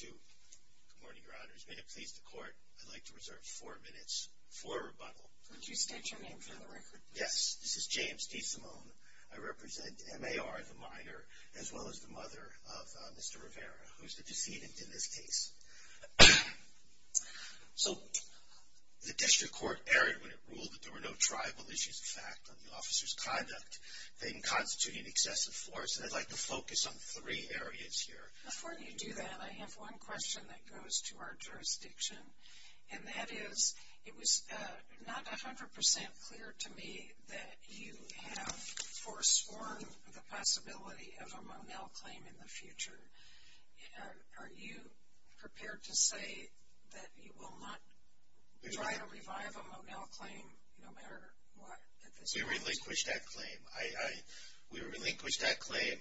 Good morning, Your Honors. May it please the Court, I'd like to reserve four minutes for a rebuttal. Could you state your name for the record? Yes. This is James DeSimone. I represent M.A.R., the minor, as well as the mother of Mr. Rivera, who is the decedent in this case. So the District Court erred when it ruled that there were no tribal issues of fact on an excessive force, and I'd like to focus on three areas here. Before you do that, I have one question that goes to our jurisdiction, and that is, it was not 100 percent clear to me that you have foresworn the possibility of a Monel claim in the future. Are you prepared to say that you will not try to revive a Monel claim no matter what? We relinquish that claim. We relinquish that claim.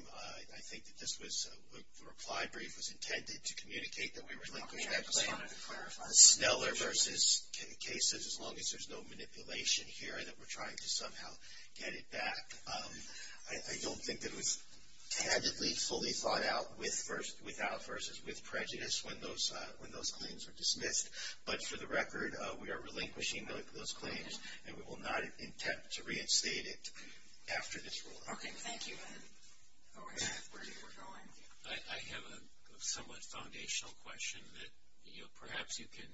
I think that this was, the reply brief was intended to communicate that we relinquish that claim. I'm sorry, I just wanted to clarify. Sneller v. Casas, as long as there's no manipulation here that we're trying to somehow get it back. I don't think that it was taggedly fully thought out with versus without versus with prejudice when those claims were dismissed. But for the record, we are relinquishing those claims, and we will not attempt to reinstate it after this ruling. Okay, thank you. I have a somewhat foundational question that perhaps you can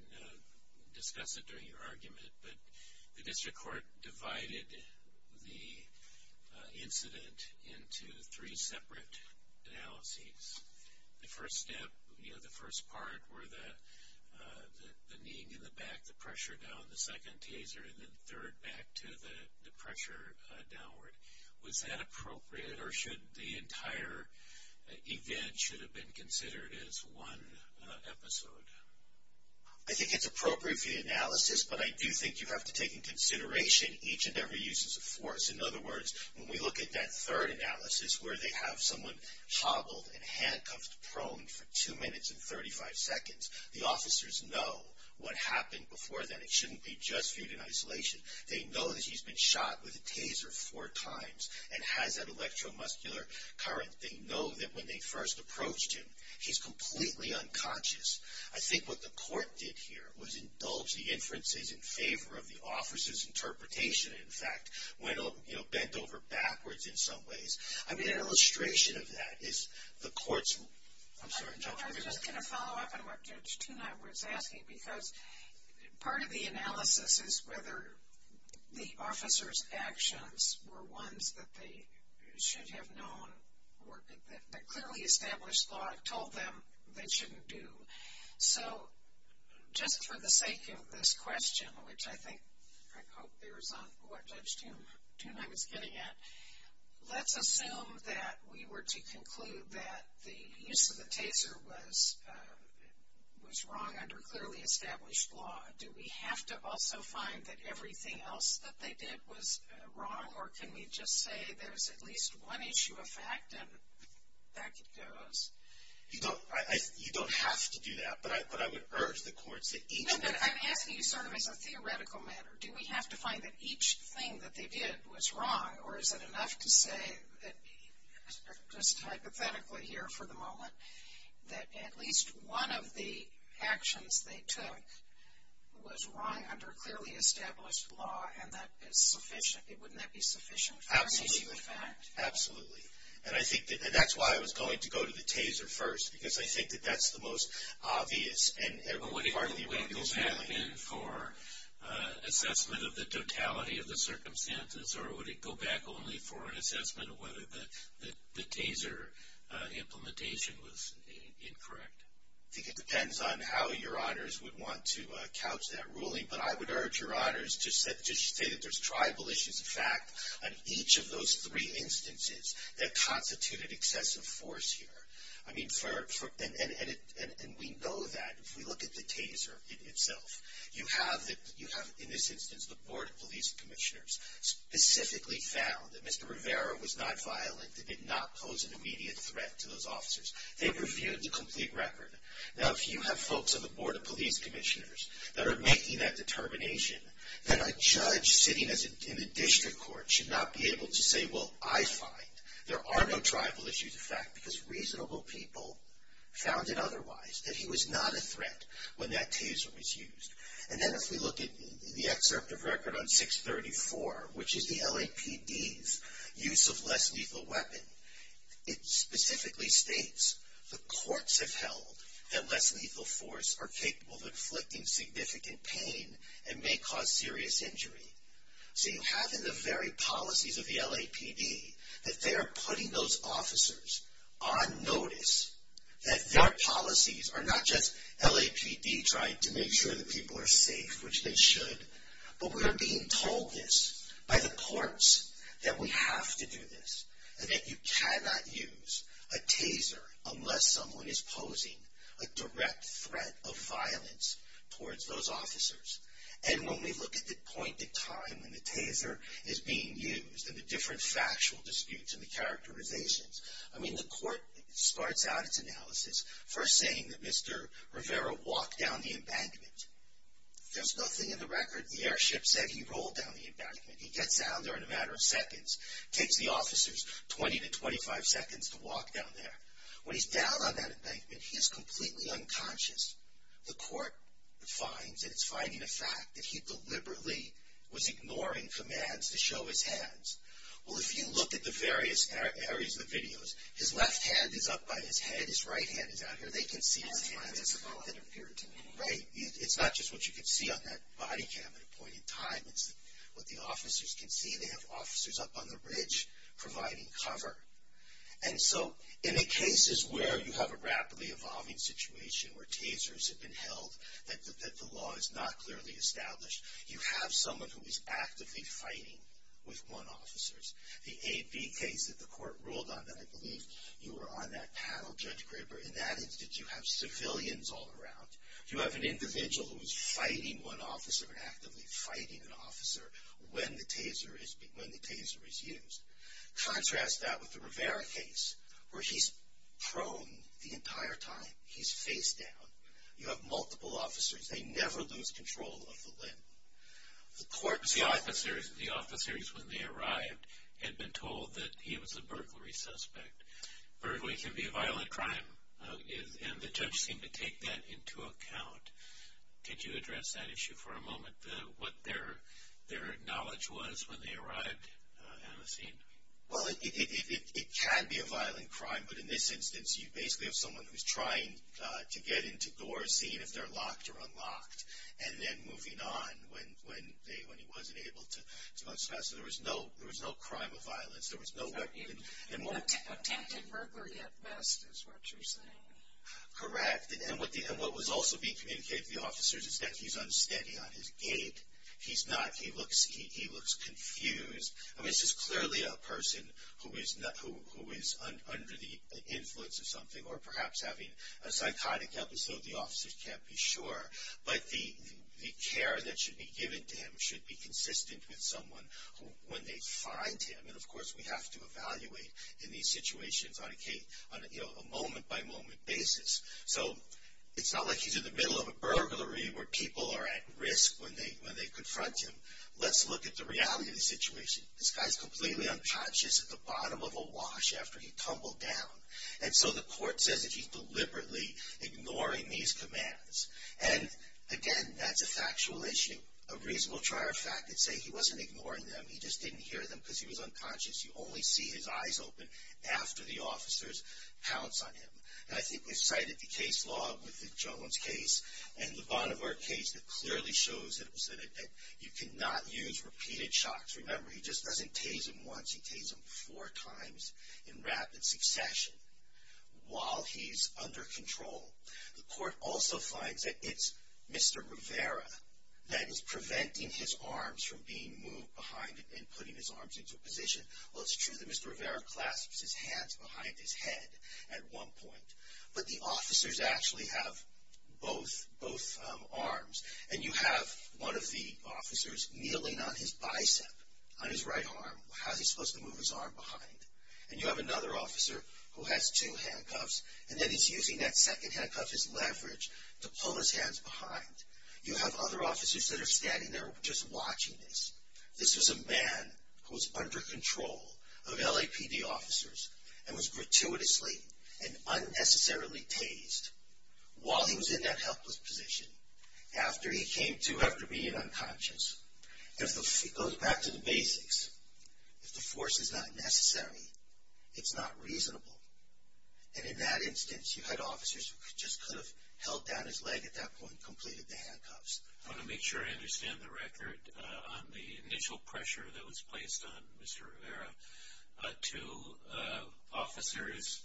discuss it during your argument, but the district court divided the incident into three separate analyses. The first step, the first part were the kneeing in the back, the pressure down, the second taser, and then the third back to the pressure downward. Was that appropriate, or should the entire event should have been considered as one episode? I think it's appropriate for the analysis, but I do think you have to take into consideration each and every use of force. In other words, when we look at that third analysis where they have someone hobbled and handcuffed prone for two minutes and thirty-five seconds, the officers know what happened before that. It shouldn't be just viewed in isolation. They know that he's been shot with a taser four times and has that electromuscular current. They know that when they first approached him, he's completely unconscious. I think what the court did here was indulge the inferences in favor of the officer's interpretation, in fact, went bent over backwards in some ways. I mean, an illustration of that is the court's... I'm sorry. I was just going to follow up on what Judge Tuna was asking, because part of the analysis is whether the officer's actions were ones that they should have known, that clearly established thought told them they shouldn't do. So, just for the sake of this question, which I think, I hope there is on what Judge Tuna was getting at, let's assume that we were to conclude that the use of the taser was wrong under clearly established law. Do we have to also find that everything else that they did was wrong, or can we just say there's at least one issue of fact and back it goes? You don't have to do that, but I would urge the courts that each... No, but I'm asking you sort of as a theoretical matter. Do we have to find that each thing that they did was wrong, or is it enough to say, just hypothetically here for the moment, that at least one of the actions they took was wrong under clearly established law and that is sufficient? Wouldn't that be sufficient for an issue of fact? Absolutely. And I think that that's why I was going to go to the taser first, because I think that that's the most obvious and part of the... Would it go back in for assessment of the totality of the circumstances, or would it go back only for an assessment of whether the taser implementation was incorrect? I think it depends on how your honors would want to couch that ruling, but I would urge your honors to say that there's tribal issues of fact on each of those three instances that constituted excessive force here. And we know that if we look at the taser itself. You have, in this instance, the Board of Police Commissioners specifically found that Mr. Rivera was not violent and did not pose an immediate threat to those officers. They reviewed the complete record. Now, if you have folks on the Board of Police Commissioners that are making that determination, then a judge sitting in a district court should not be able to say, well, I find there are no tribal issues of fact, because reasonable people found it otherwise, that he was not a threat when that taser was used. And then if we look at the excerpt of record on 634, which is the LAPD's use of less lethal weapon, it specifically states the courts have held that less lethal force are capable of inflicting significant pain and may cause serious injury. So you have in the very policies of the LAPD that they are putting those officers on notice that their policies are not just LAPD trying to make sure that people are safe, which they should, but we are being told this by the courts, that we have to do this, and that you cannot use a taser unless someone is posing a direct threat of violence towards those officers. And when we look at the point in time when the taser is being used and the different factual disputes and the characterizations, I mean, the court starts out its analysis first saying that Mr. Rivera walked down the embankment. There's nothing in the record. The airship said he rolled down the embankment. He gets down there in a matter of seconds, takes the officers 20 to 25 seconds to walk down there. When he's down on that embankment, he's completely unconscious. The court finds that it's finding a fact that he deliberately was ignoring commands to show his hands. Well, if you look at the various areas of the videos, his left hand is up by his head, his right hand is out here. They can see his hands as a little interference, right? It's not just what you can see on that body cam at a point in time. It's what the officers can see. They have officers up on the ridge providing cover. And so in the cases where you have a rapidly evolving situation where tasers have been held, that the law is not clearly established, you have someone who is actively fighting with one officer. The AB case that the court ruled on, that I believe you were on that panel, Judge Graber, in that instance you have civilians all around. You have an individual who is fighting one officer and actively fighting an officer when the taser is used. Contrast that with the Rivera case where he's prone the entire time. He's face down. You have multiple officers. They never lose control of the limb. The court finds... The officers when they arrived had been told that he was a burglary suspect. Burglary can be a violent crime, and the judge seemed to take that into account. Could you address that issue for a moment, what their knowledge was when they arrived at the scene? Well, it can be a violent crime, but in this instance, you basically have someone who's trying to get into doors, seeing if they're locked or unlocked, and then moving on when he wasn't able to. So there was no crime of violence. There was no... Attempted burglary at best is what you're saying. Correct. And what was also being communicated to the officers is that he's unsteady on his gait. He's not. He looks confused. I mean, this is clearly a person who is under the influence of something, or perhaps having a psychotic episode the officers can't be sure. But the care that should be given to him should be consistent with someone when they find him. And, of course, we have to evaluate in these situations on a moment-by-moment basis. So it's not like he's in the middle of a burglary where people are at risk when they confront him. Let's look at the reality of the situation. This guy's completely unconscious at the bottom of a wash after he tumbled down. And so the court says that he's deliberately ignoring these commands. And, again, that's a factual issue. A reasonable trier of fact would say he wasn't ignoring them, he just didn't hear them because he was unconscious. You only see his eyes open after the officers pounce on him. And I think we've cited the case law with the Jones case and the Bonnevard case that clearly shows that you cannot use repeated shocks. Remember, he just doesn't tase him once, he tase him four times in rapid succession while he's under control. The court also finds that it's Mr. Rivera that is preventing his arms from being moved behind him and putting his arms into a position. Well, it's true that Mr. Rivera clasps his hands behind his head at one point, but the officers actually have both arms. And you have one of the officers kneeling on his bicep, on his right arm. How is he supposed to move his arm behind? And you have another officer who has two handcuffs, and then he's using that second handcuff as leverage to pull his hands behind. You have other officers that are standing there just watching this. This was a man who was under control of LAPD officers and was gratuitously and unnecessarily tased while he was in that helpless position, after he came to after being unconscious. It goes back to the basics. If the force is not necessary, it's not reasonable. And in that instance, you had officers who just could have held down his leg at that point and completed the handcuffs. I want to make sure I understand the record. On the initial pressure that was placed on Mr. Rivera, two officers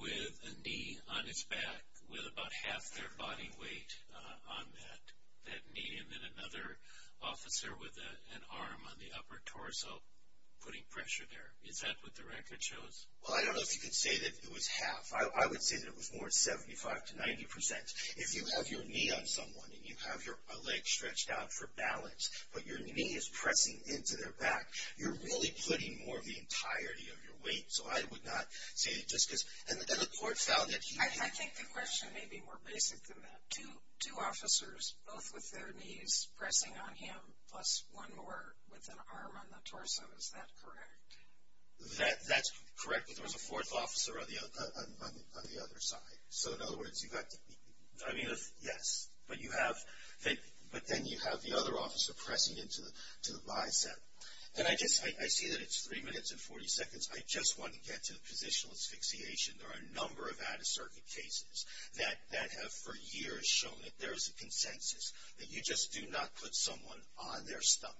with a knee on his back with about half their body weight on that knee, and then another officer with an arm on the upper torso putting pressure there. Is that what the record shows? Well, I don't know if you could say that it was half. I would say that it was more than 75% to 90%. If you have your knee on someone and you have your leg stretched out for balance, but your knee is pressing into their back, you're really putting more of the entirety of your weight. So I would not say just because – and the court found that he – I think the question may be more basic than that. Two officers, both with their knees pressing on him, plus one more with an arm on the torso. Is that correct? That's correct, but there was a fourth officer on the other side. So, in other words, you've got – I mean, yes. But you have – but then you have the other officer pressing into the bicep. And I just – I see that it's three minutes and 40 seconds. I just want to get to the position of asphyxiation. There are a number of out-of-circuit cases that have for years shown that there is a consensus, that you just do not put someone on their stomach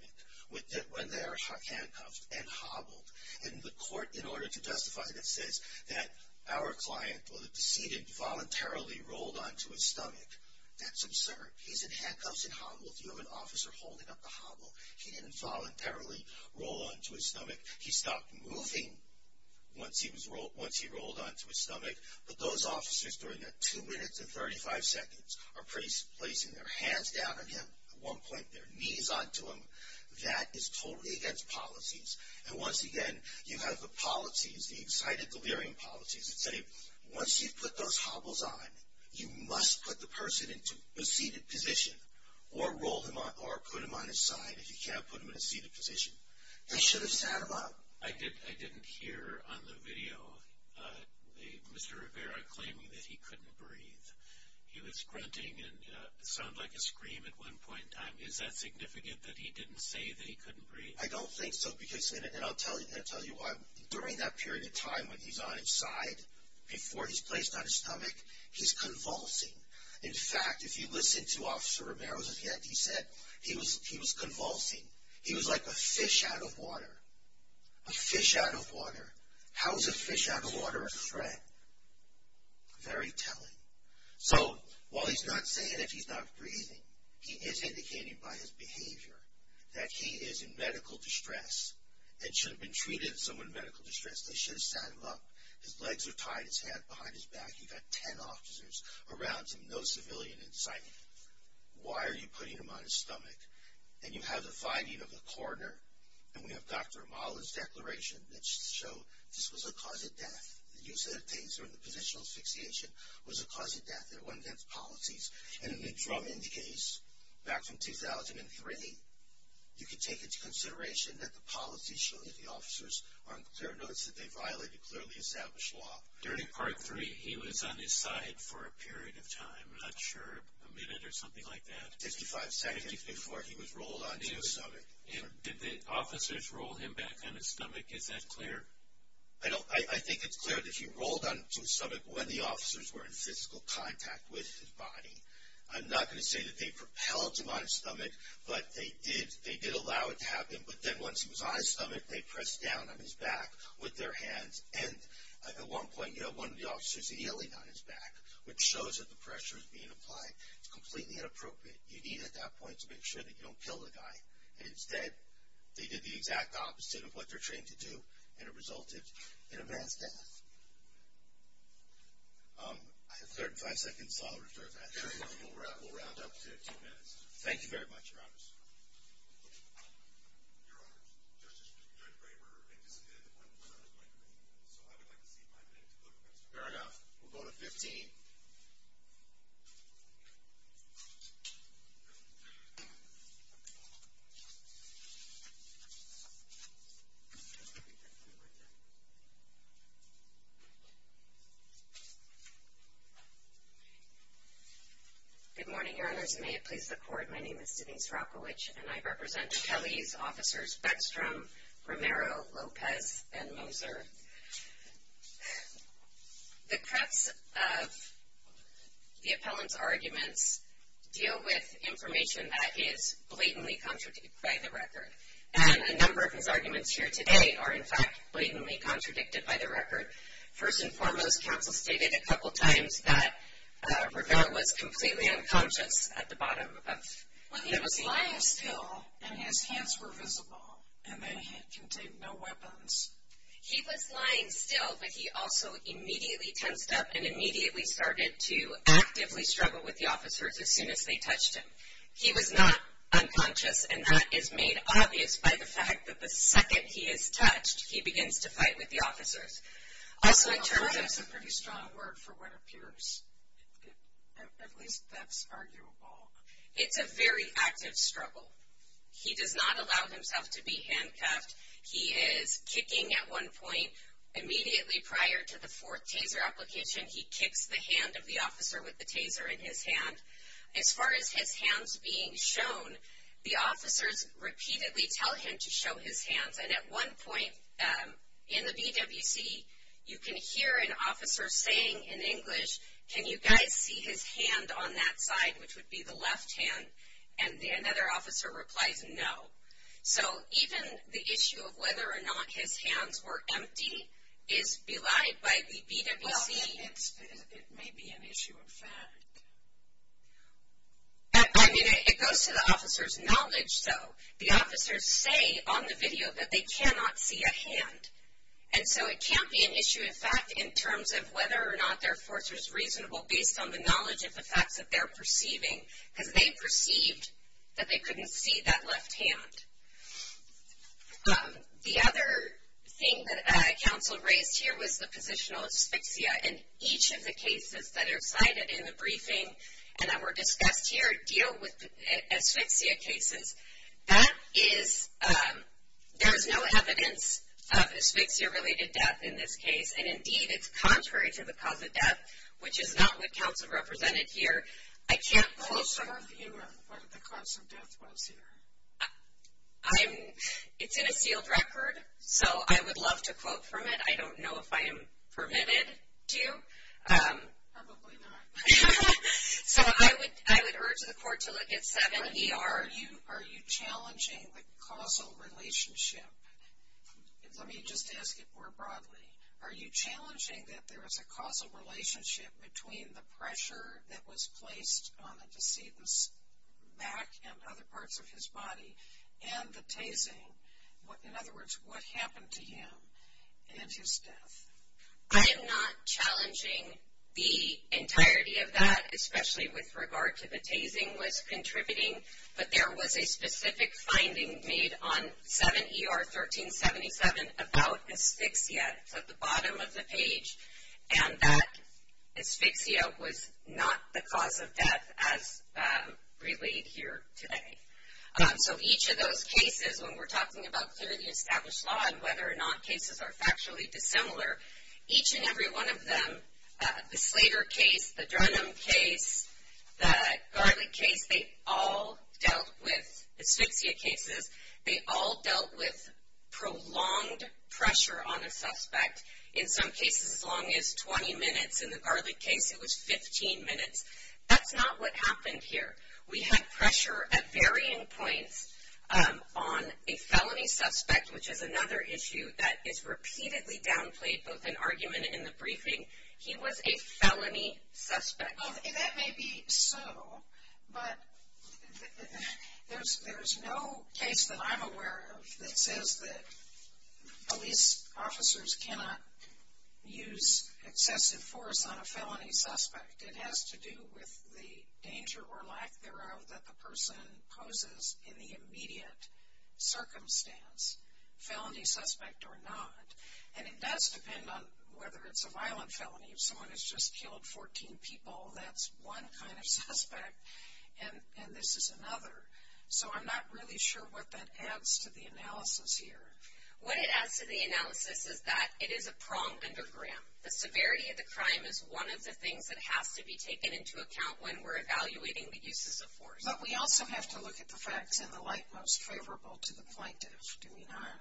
when they are handcuffed and hobbled. And the court, in order to justify this, says that our client, or the decedent, voluntarily rolled onto his stomach. That's absurd. He's in handcuffs and hobbled. You have an officer holding up the hobble. He didn't voluntarily roll onto his stomach. He stopped moving once he rolled onto his stomach. But those officers, during that two minutes and 35 seconds, are pretty – placing their hands down on him. At one point, their knees onto him. That is totally against policies. And once again, you have the polities, the excited delirium polities, that say once you've put those hobbles on, you must put the person into a seated position or put him on his side if you can't put him in a seated position. They should have sat him up. I didn't hear on the video Mr. Rivera claiming that he couldn't breathe. He was grunting and it sounded like a scream at one point in time. Is that significant, that he didn't say that he couldn't breathe? I don't think so because – and I'll tell you why. During that period of time when he's on his side, before he's placed on his stomach, he's convulsing. In fact, if you listen to Officer Romero, as of yet, he said he was convulsing. He was like a fish out of water. A fish out of water. How is a fish out of water a threat? Very telling. So while he's not saying that he's not breathing, he is indicating by his behavior that he is in medical distress and should have been treated as someone in medical distress. They should have sat him up. His legs are tied, his head behind his back. He's got ten officers around him, no civilian in sight. Why are you putting him on his stomach? And you have the finding of the coroner, and we have Dr. Amala's declaration that showed this was a cause of death. The use of the taser and the positional asphyxiation was a cause of death. And the drum indicates, back from 2003, you can take into consideration that the policy showed that the officers are on clear notice that they violated clearly established law. During Part 3, he was on his side for a period of time. I'm not sure, a minute or something like that. Fifty-five seconds before he was rolled onto his stomach. Did the officers roll him back on his stomach? I think it's clear that he rolled onto his stomach when the officers were in physical contact with his body. I'm not going to say that they propelled him on his stomach, but they did allow it to happen. But then once he was on his stomach, they pressed down on his back with their hands. And at one point, you have one of the officers yelling on his back, which shows that the pressure is being applied. It's completely inappropriate. You need, at that point, to make sure that you don't kill the guy. And instead, they did the exact opposite of what they're trained to do, and it resulted in a man's death. I have 35 seconds, so I'll reserve that. Very well. We'll round up to two minutes. Thank you very much, Your Honors. Your Honors, Justice Judge Graber anticipated the point where I was going to make, so I would like to see my minute to go to 15. Fair enough. We'll go to 15. Good morning, Your Honors. May it please the Court, my name is Denise Rockowich, and I represent Kelly's officers Bedstrom, Romero, Lopez, and Moser. The crux of the appellant's arguments deal with information that is blatantly contradicted by the record. And a number of his arguments here today are, in fact, blatantly contradicted by the record. First and foremost, counsel stated a couple times that Ravel was completely unconscious at the bottom. Well, he was lying still, and his hands were visible, and they contained no weapons. He was lying still, but he also immediately tensed up and immediately started to actively struggle with the officers as soon as they touched him. He was not unconscious, and that is made obvious by the fact that the second he is touched, he begins to fight with the officers. Also, in terms of- That's a pretty strong word for what appears, at least that's arguable. It's a very active struggle. He does not allow himself to be handcuffed. He is kicking at one point. Immediately prior to the fourth taser application, he kicks the hand of the officer with the taser in his hand. As far as his hands being shown, the officers repeatedly tell him to show his hands, and at one point in the BWC, you can hear an officer saying in English, can you guys see his hand on that side, which would be the left hand, and another officer replies no. So, even the issue of whether or not his hands were empty is belied by the BWC. Well, it may be an issue of fact. I mean, it goes to the officer's knowledge, though. The officers say on the video that they cannot see a hand, and so it can't be an issue of fact in terms of whether or not their force was reasonable, based on the knowledge of the facts that they're perceiving, because they perceived that they couldn't see that left hand. The other thing that counsel raised here was the positional asphyxia, and each of the cases that are cited in the briefing and that were discussed here deal with asphyxia cases. That is, there is no evidence of asphyxia-related death in this case, and indeed, it's contrary to the cause of death, which is not what counsel represented here. I can't quote. I'm not familiar with what the cause of death was here. It's in a sealed record, so I would love to quote from it. I don't know if I am permitted to. Probably not. So, I would urge the court to look at 7ER. Are you challenging the causal relationship? Let me just ask it more broadly. Are you challenging that there is a causal relationship between the pressure that was placed on the decedent's back and other parts of his body and the tasing? In other words, what happened to him and his death? I am not challenging the entirety of that, especially with regard to the tasing was contributing, but there was a specific finding made on 7ER 1377 about asphyxia. It's at the bottom of the page, and that asphyxia was not the cause of death as relayed here today. So, each of those cases, when we're talking about clearly established law and whether or not cases are factually dissimilar, each and every one of them, the Slater case, the Drenham case, the Garlick case, they all dealt with, asphyxia cases, they all dealt with prolonged pressure on a suspect. In some cases, as long as 20 minutes. In the Garlick case, it was 15 minutes. That's not what happened here. We had pressure at varying points on a felony suspect, which is another issue that is repeatedly downplayed both in argument and in the briefing. He was a felony suspect. That may be so, but there's no case that I'm aware of that says that police officers cannot use excessive force on a felony suspect. It has to do with the danger or lack thereof that the person poses in the immediate circumstance, felony suspect or not. And it does depend on whether it's a violent felony. If someone has just killed 14 people, that's one kind of suspect, and this is another. So, I'm not really sure what that adds to the analysis here. What it adds to the analysis is that it is a pronged underground. The severity of the crime is one of the things that has to be taken into account when we're evaluating the uses of force. But we also have to look at the facts in the light most favorable to the plaintiff, do we not?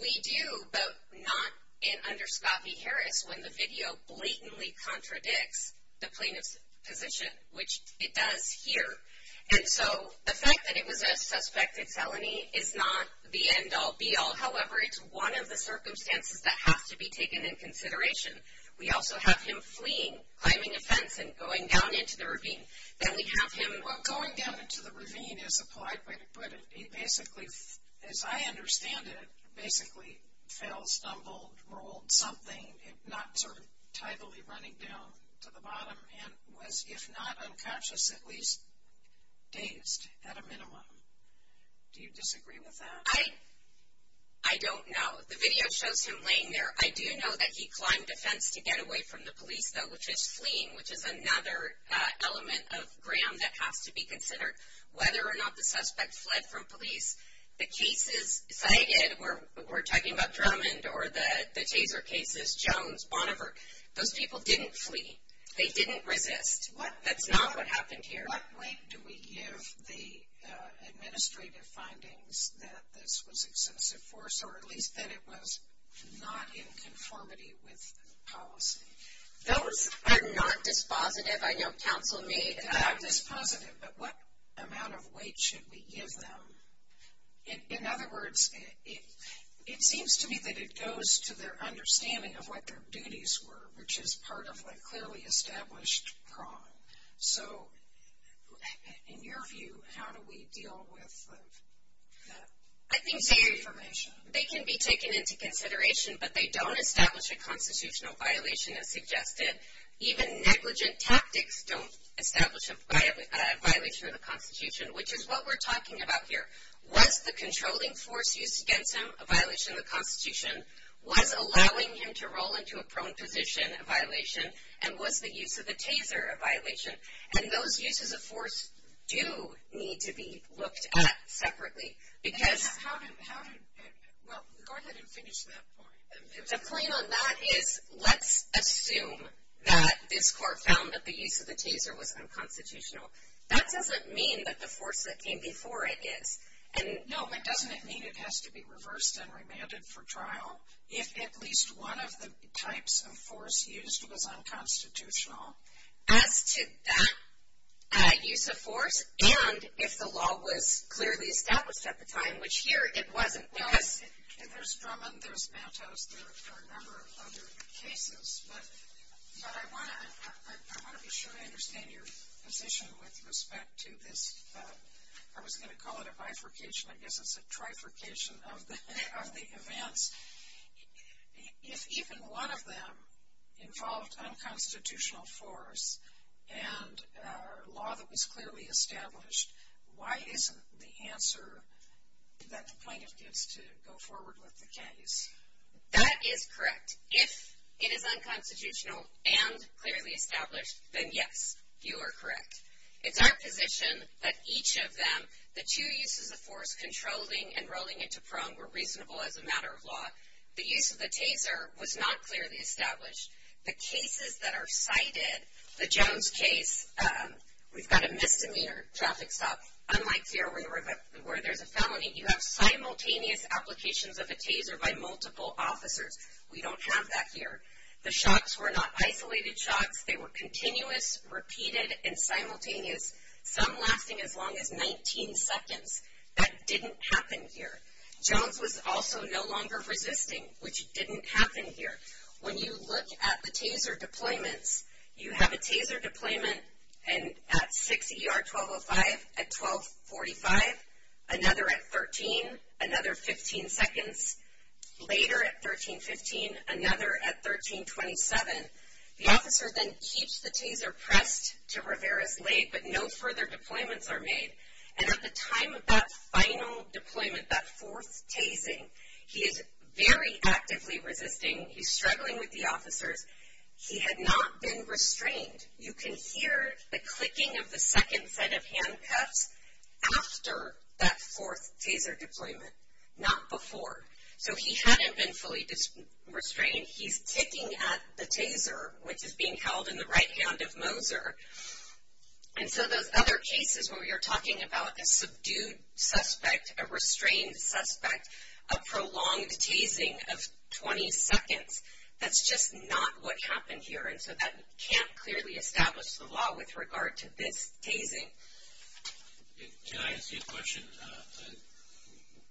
We do, but not under Scott v. Harris when the video blatantly contradicts the plaintiff's position, which it does here. And so, the fact that it was a suspected felony is not the end-all, be-all. However, it's one of the circumstances that has to be taken in consideration. We also have him fleeing, climbing a fence, and going down into the ravine. Then we have him. Well, going down into the ravine is a polite way to put it. He basically, as I understand it, basically fell, stumbled, rolled something, not sort of tidily running down to the bottom, and was, if not unconscious, at least dazed at a minimum. Do you disagree with that? I don't know. The video shows him laying there. I do know that he climbed a fence to get away from the police, though, which is fleeing, which is another element of Graham that has to be considered. Whether or not the suspect fled from police, the cases cited, we're talking about Drummond or the Taser cases, Jones, Bonnevere, those people didn't flee. They didn't resist. That's not what happened here. What weight do we give the administrative findings that this was excessive force, or at least that it was not in conformity with policy? Those are not dispositive. I know counsel may not. Not dispositive, but what amount of weight should we give them? In other words, it seems to me that it goes to their understanding of what their duties were, which is part of a clearly established problem. So in your view, how do we deal with that information? They can be taken into consideration, but they don't establish a constitutional violation as suggested. Even negligent tactics don't establish a violation of the Constitution, which is what we're talking about here. Was the controlling force used against him a violation of the Constitution? And was the use of the Taser a violation? And those uses of force do need to be looked at separately, because... Well, go ahead and finish that point. The point on that is let's assume that this court found that the use of the Taser was unconstitutional. That doesn't mean that the force that came before it is. No, but doesn't it mean it has to be reversed and remanded for trial? If at least one of the types of force used was unconstitutional? As to that use of force and if the law was clearly established at the time, which here it wasn't, because... Well, there's Drummond, there's Matos, there are a number of other cases, but I want to be sure I understand your position with respect to this... If even one of them involved unconstitutional force and a law that was clearly established, why isn't the answer that the plaintiff gives to go forward with the case? That is correct. If it is unconstitutional and clearly established, then yes, you are correct. It's our position that each of them, the two uses of force, controlling and rolling it to prong, were reasonable as a matter of law. The use of the Taser was not clearly established. The cases that are cited, the Jones case, we've got a misdemeanor traffic stop. Unlike here where there's a felony, you have simultaneous applications of a Taser by multiple officers. We don't have that here. The shots were not isolated shots. They were continuous, repeated, and simultaneous, some lasting as long as 19 seconds. That didn't happen here. Jones was also no longer resisting, which didn't happen here. When you look at the Taser deployments, you have a Taser deployment at 6 ER 1205 at 1245, another at 13, another 15 seconds, later at 1315, another at 1327. The officer then keeps the Taser pressed to Rivera's leg, but no further deployments are made. And at the time of that final deployment, that fourth Tasing, he is very actively resisting. He's struggling with the officers. He had not been restrained. You can hear the clicking of the second set of handcuffs after that fourth Taser deployment, not before. So he hadn't been fully restrained. He's kicking at the Taser, which is being held in the right hand of Moser. And so those other cases where we are talking about a subdued suspect, a restrained suspect, a prolonged Tasing of 20 seconds, that's just not what happened here. And so that can't clearly establish the law with regard to this Tasing. Can I ask you a question?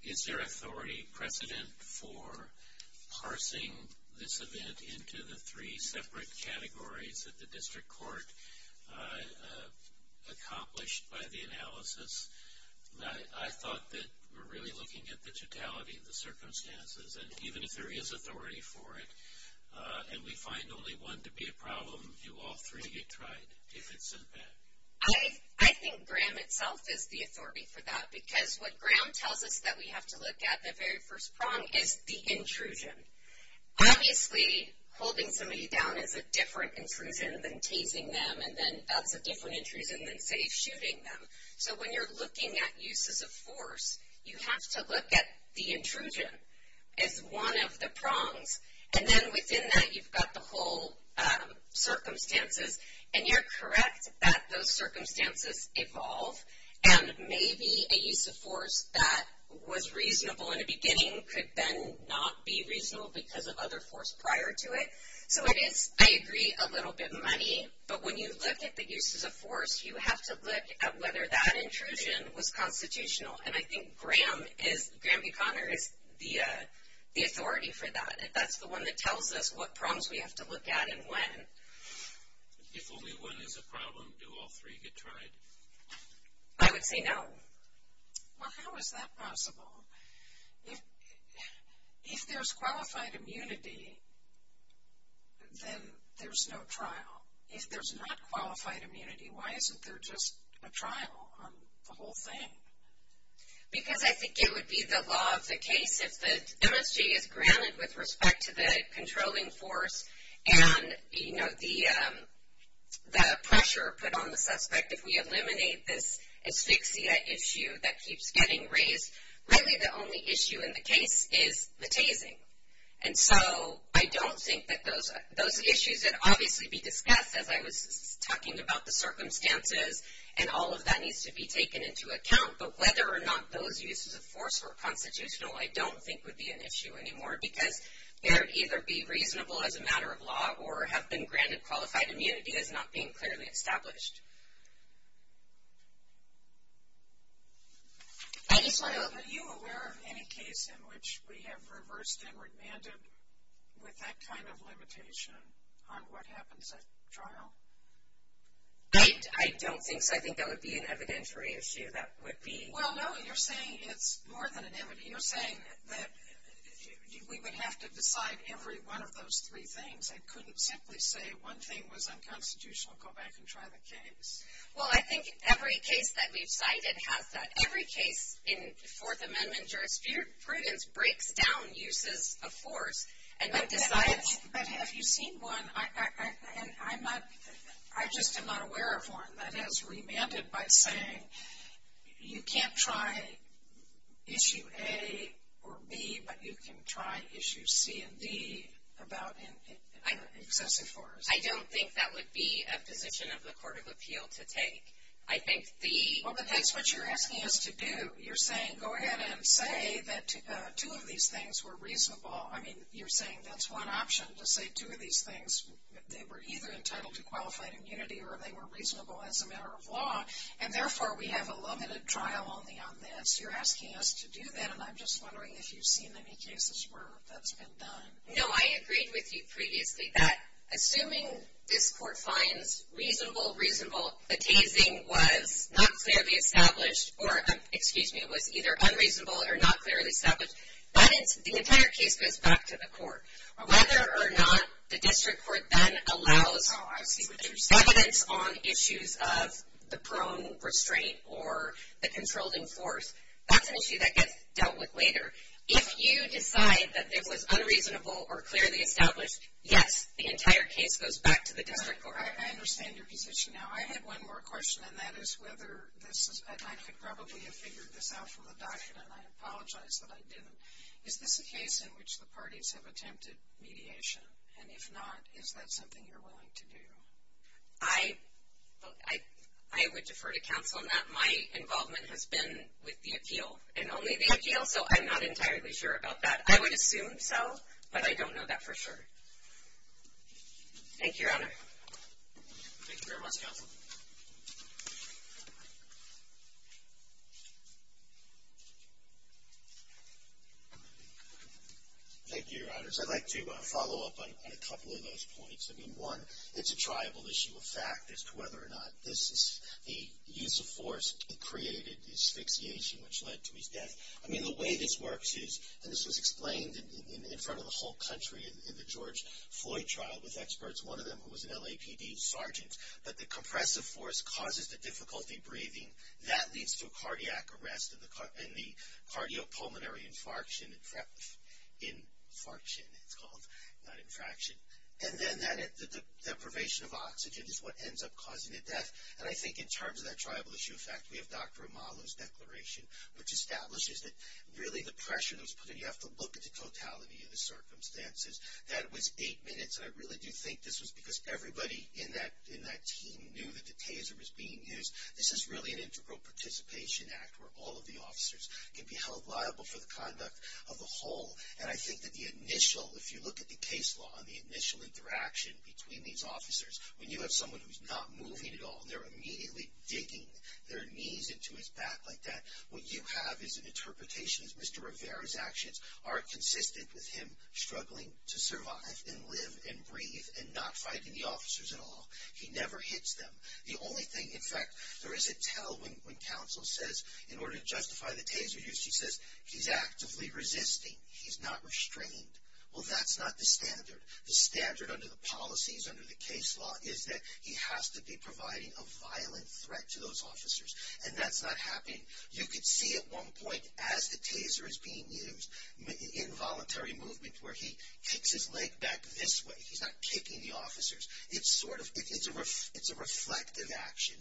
Is there authority precedent for parsing this event into the three separate categories that the district court accomplished by the analysis? I thought that we're really looking at the totality of the circumstances, and even if there is authority for it and we find only one to be a problem, do all three get tried if it's sent back? I think Graham itself is the authority for that, because what Graham tells us that we have to look at the very first prong is the intrusion. Obviously, holding somebody down is a different intrusion than Tasing them, and then that's a different intrusion than, say, shooting them. So when you're looking at uses of force, you have to look at the intrusion as one of the prongs, and then within that you've got the whole circumstances, and you're correct that those circumstances evolve, and maybe a use of force that was reasonable in the beginning could then not be reasonable because of other force prior to it. So it is, I agree, a little bit muddy, but when you look at the uses of force, you have to look at whether that intrusion was constitutional, and I think Graham B. Conner is the authority for that. That's the one that tells us what prongs we have to look at and when. If only one is a problem, do all three get tried? I would say no. Well, how is that possible? If there's qualified immunity, then there's no trial. If there's not qualified immunity, why isn't there just a trial on the whole thing? Because I think it would be the law of the case if the MSG is granted with respect to the controlling force and, you know, the pressure put on the suspect. If we eliminate this asphyxia issue that keeps getting raised, really the only issue in the case is the tasing. And so I don't think that those issues would obviously be discussed, as I was talking about the circumstances, and all of that needs to be taken into account. But whether or not those uses of force were constitutional, I don't think would be an issue anymore because they would either be reasonable as a matter of law or have been granted qualified immunity as not being clearly established. Are you aware of any case in which we have reversed and remanded with that kind of limitation on what happens at trial? I don't think so. I think that would be an evidentiary issue. That would be. Well, no, you're saying it's more than an evidentiary. You're saying that we would have to decide every one of those three things. I couldn't simply say one thing was unconstitutional, go back and try the case. Well, I think every case that we've cited has that. Every case in Fourth Amendment jurisprudence breaks down uses of force and then decides. But have you seen one? I just am not aware of one that has remanded by saying you can't try Issue A or B, but you can try Issues C and D about excessive force. I don't think that would be a position of the Court of Appeal to take. I think the. Well, but that's what you're asking us to do. You're saying go ahead and say that two of these things were reasonable. I mean, you're saying that's one option to say two of these things. They were either entitled to qualified immunity or they were reasonable as a matter of law, and therefore we have a limited trial only on this. You're asking us to do that, and I'm just wondering if you've seen any cases where that's been done. No, I agreed with you previously. That assuming this court finds reasonable reasonable, the tasing was not clearly established or, excuse me, it was either unreasonable or not clearly established, the entire case goes back to the court. Whether or not the district court then allows evidence on issues of the prone restraint or the controlling force, that's an issue that gets dealt with later. If you decide that this was unreasonable or clearly established, yes, the entire case goes back to the district court. I understand your position now. I had one more question, and that is whether this is... I could probably have figured this out from the docket, and I apologize that I didn't. Is this a case in which the parties have attempted mediation? And if not, is that something you're willing to do? I would defer to counsel on that. My involvement has been with the appeal and only the appeal, so I'm not entirely sure about that. I would assume so, but I don't know that for sure. Thank you, Your Honor. Thank you very much, counsel. Thank you, Your Honors. I'd like to follow up on a couple of those points. I mean, one, it's a tribal issue of fact as to whether or not this is the use of force that created asphyxiation which led to his death. I mean, the way this works is, and this was explained in front of the whole country in the George Floyd trial with experts. One of them was an LAPD sergeant. But the compressive force causes the difficulty breathing. That leads to cardiac arrest and the cardiopulmonary infarction. Infarction, it's called, not infraction. And then the deprivation of oxygen is what ends up causing a death. And I think in terms of that tribal issue of fact, we have Dr. Amalo's declaration which establishes that really the pressure that was put, and you have to look at the totality of the circumstances, that was eight minutes. And I really do think this was because everybody in that team knew that the taser was being used. This is really an integral participation act where all of the officers can be held liable for the conduct of the whole. And I think that the initial, if you look at the case law and the initial interaction between these officers, when you have someone who's not moving at all, they're immediately digging their knees into his back like that. What you have is an interpretation as Mr. Rivera's actions are consistent with him struggling to survive and live and breathe and not fighting the officers at all. He never hits them. The only thing, in fact, there is a tell when counsel says in order to justify the taser use, he says he's actively resisting. Well, that's not the standard. The standard under the policies, under the case law, is that he has to be providing a violent threat to those officers. And that's not happening. You could see at one point as the taser is being used, involuntary movement where he kicks his leg back this way. He's not kicking the officers. It's a reflective action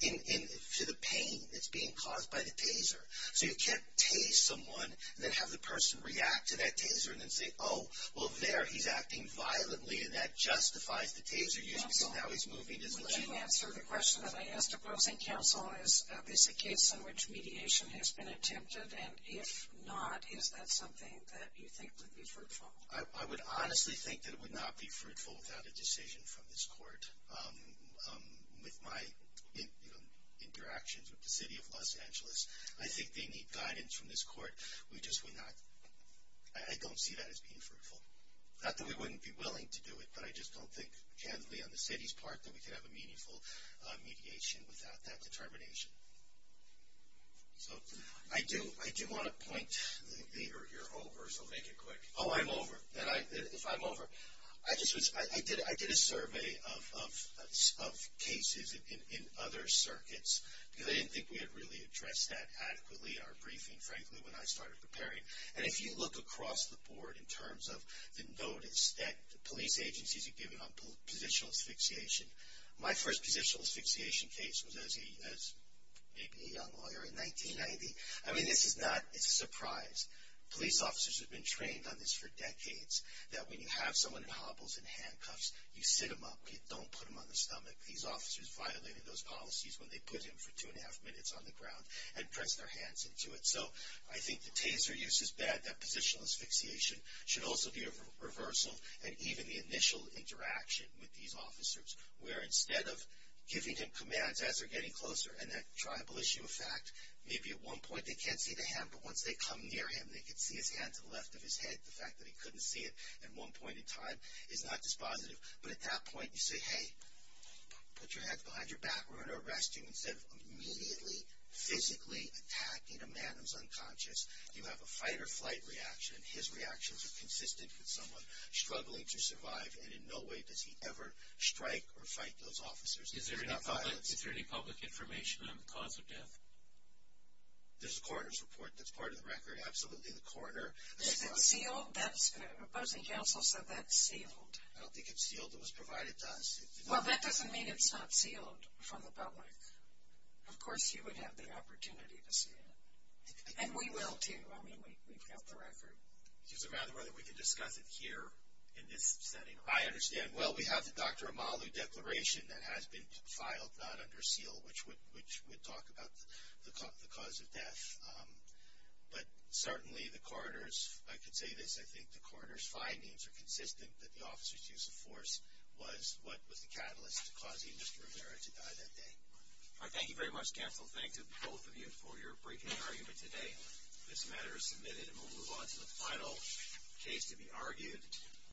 to the pain that's being caused by the taser. So you can't tase someone and then have the person react to that taser and then say, oh, well there he's acting violently and that justifies the taser use because now he's moving his leg. Counsel, would you answer the question that I asked opposing counsel, is this a case in which mediation has been attempted? And if not, is that something that you think would be fruitful? I would honestly think that it would not be fruitful without a decision from this court. With my interactions with the city of Los Angeles, I think they need guidance from this court. We just would not ‑‑ I don't see that as being fruitful. Not that we wouldn't be willing to do it, but I just don't think candidly on the city's part that we could have a meaningful mediation without that determination. So I do want to point the ‑‑ You're over, so make it quick. Oh, I'm over. If I'm over, I did a survey of cases in other circuits because I didn't think we had really addressed that adequately in our briefing. Frankly, when I started preparing. And if you look across the board in terms of the notice that the police agencies are giving on positional asphyxiation, my first positional asphyxiation case was as maybe a young lawyer in 1990. I mean, this is not a surprise. Police officers have been trained on this for decades, that when you have someone in hobbles and handcuffs, you sit them up. You don't put them on the stomach. These officers violated those policies when they put him for two and a half minutes on the ground and pressed their hands into it. So I think the taser use is bad. That positional asphyxiation should also be a reversal and even the initial interaction with these officers, where instead of giving him commands as they're getting closer, and that tribal issue of fact, maybe at one point they can't see the hand, but once they come near him, they can see his hand to the left of his head. The fact that he couldn't see it at one point in time is not dispositive. But at that point, you say, hey, put your hands behind your back. We're going to arrest you. Instead of immediately, physically attacking a man who's unconscious, you have a fight-or-flight reaction. His reactions are consistent with someone struggling to survive, and in no way does he ever strike or fight those officers. They're not violent. Is there any public information on the cause of death? There's a coroner's report. That's part of the record. Absolutely, the coroner. Is it sealed? The opposing counsel said that's sealed. I don't think it's sealed. It was provided to us. Well, that doesn't mean it's not sealed from the public. Of course, you would have the opportunity to see it. And we will, too. I mean, we've got the record. It's a matter of whether we can discuss it here in this setting. I understand. Well, we have the Dr. Amalu Declaration that has been filed, not under seal, which would talk about the cause of death. But certainly the coroner's, I could say this, I think the coroner's findings are consistent that the officer's use of force was what was the catalyst causing Mr. Rivera to die that day. All right. Thank you very much, counsel. Thanks to both of you for your briefing argument today. This matter is submitted, and we'll move on to the final case to be argued.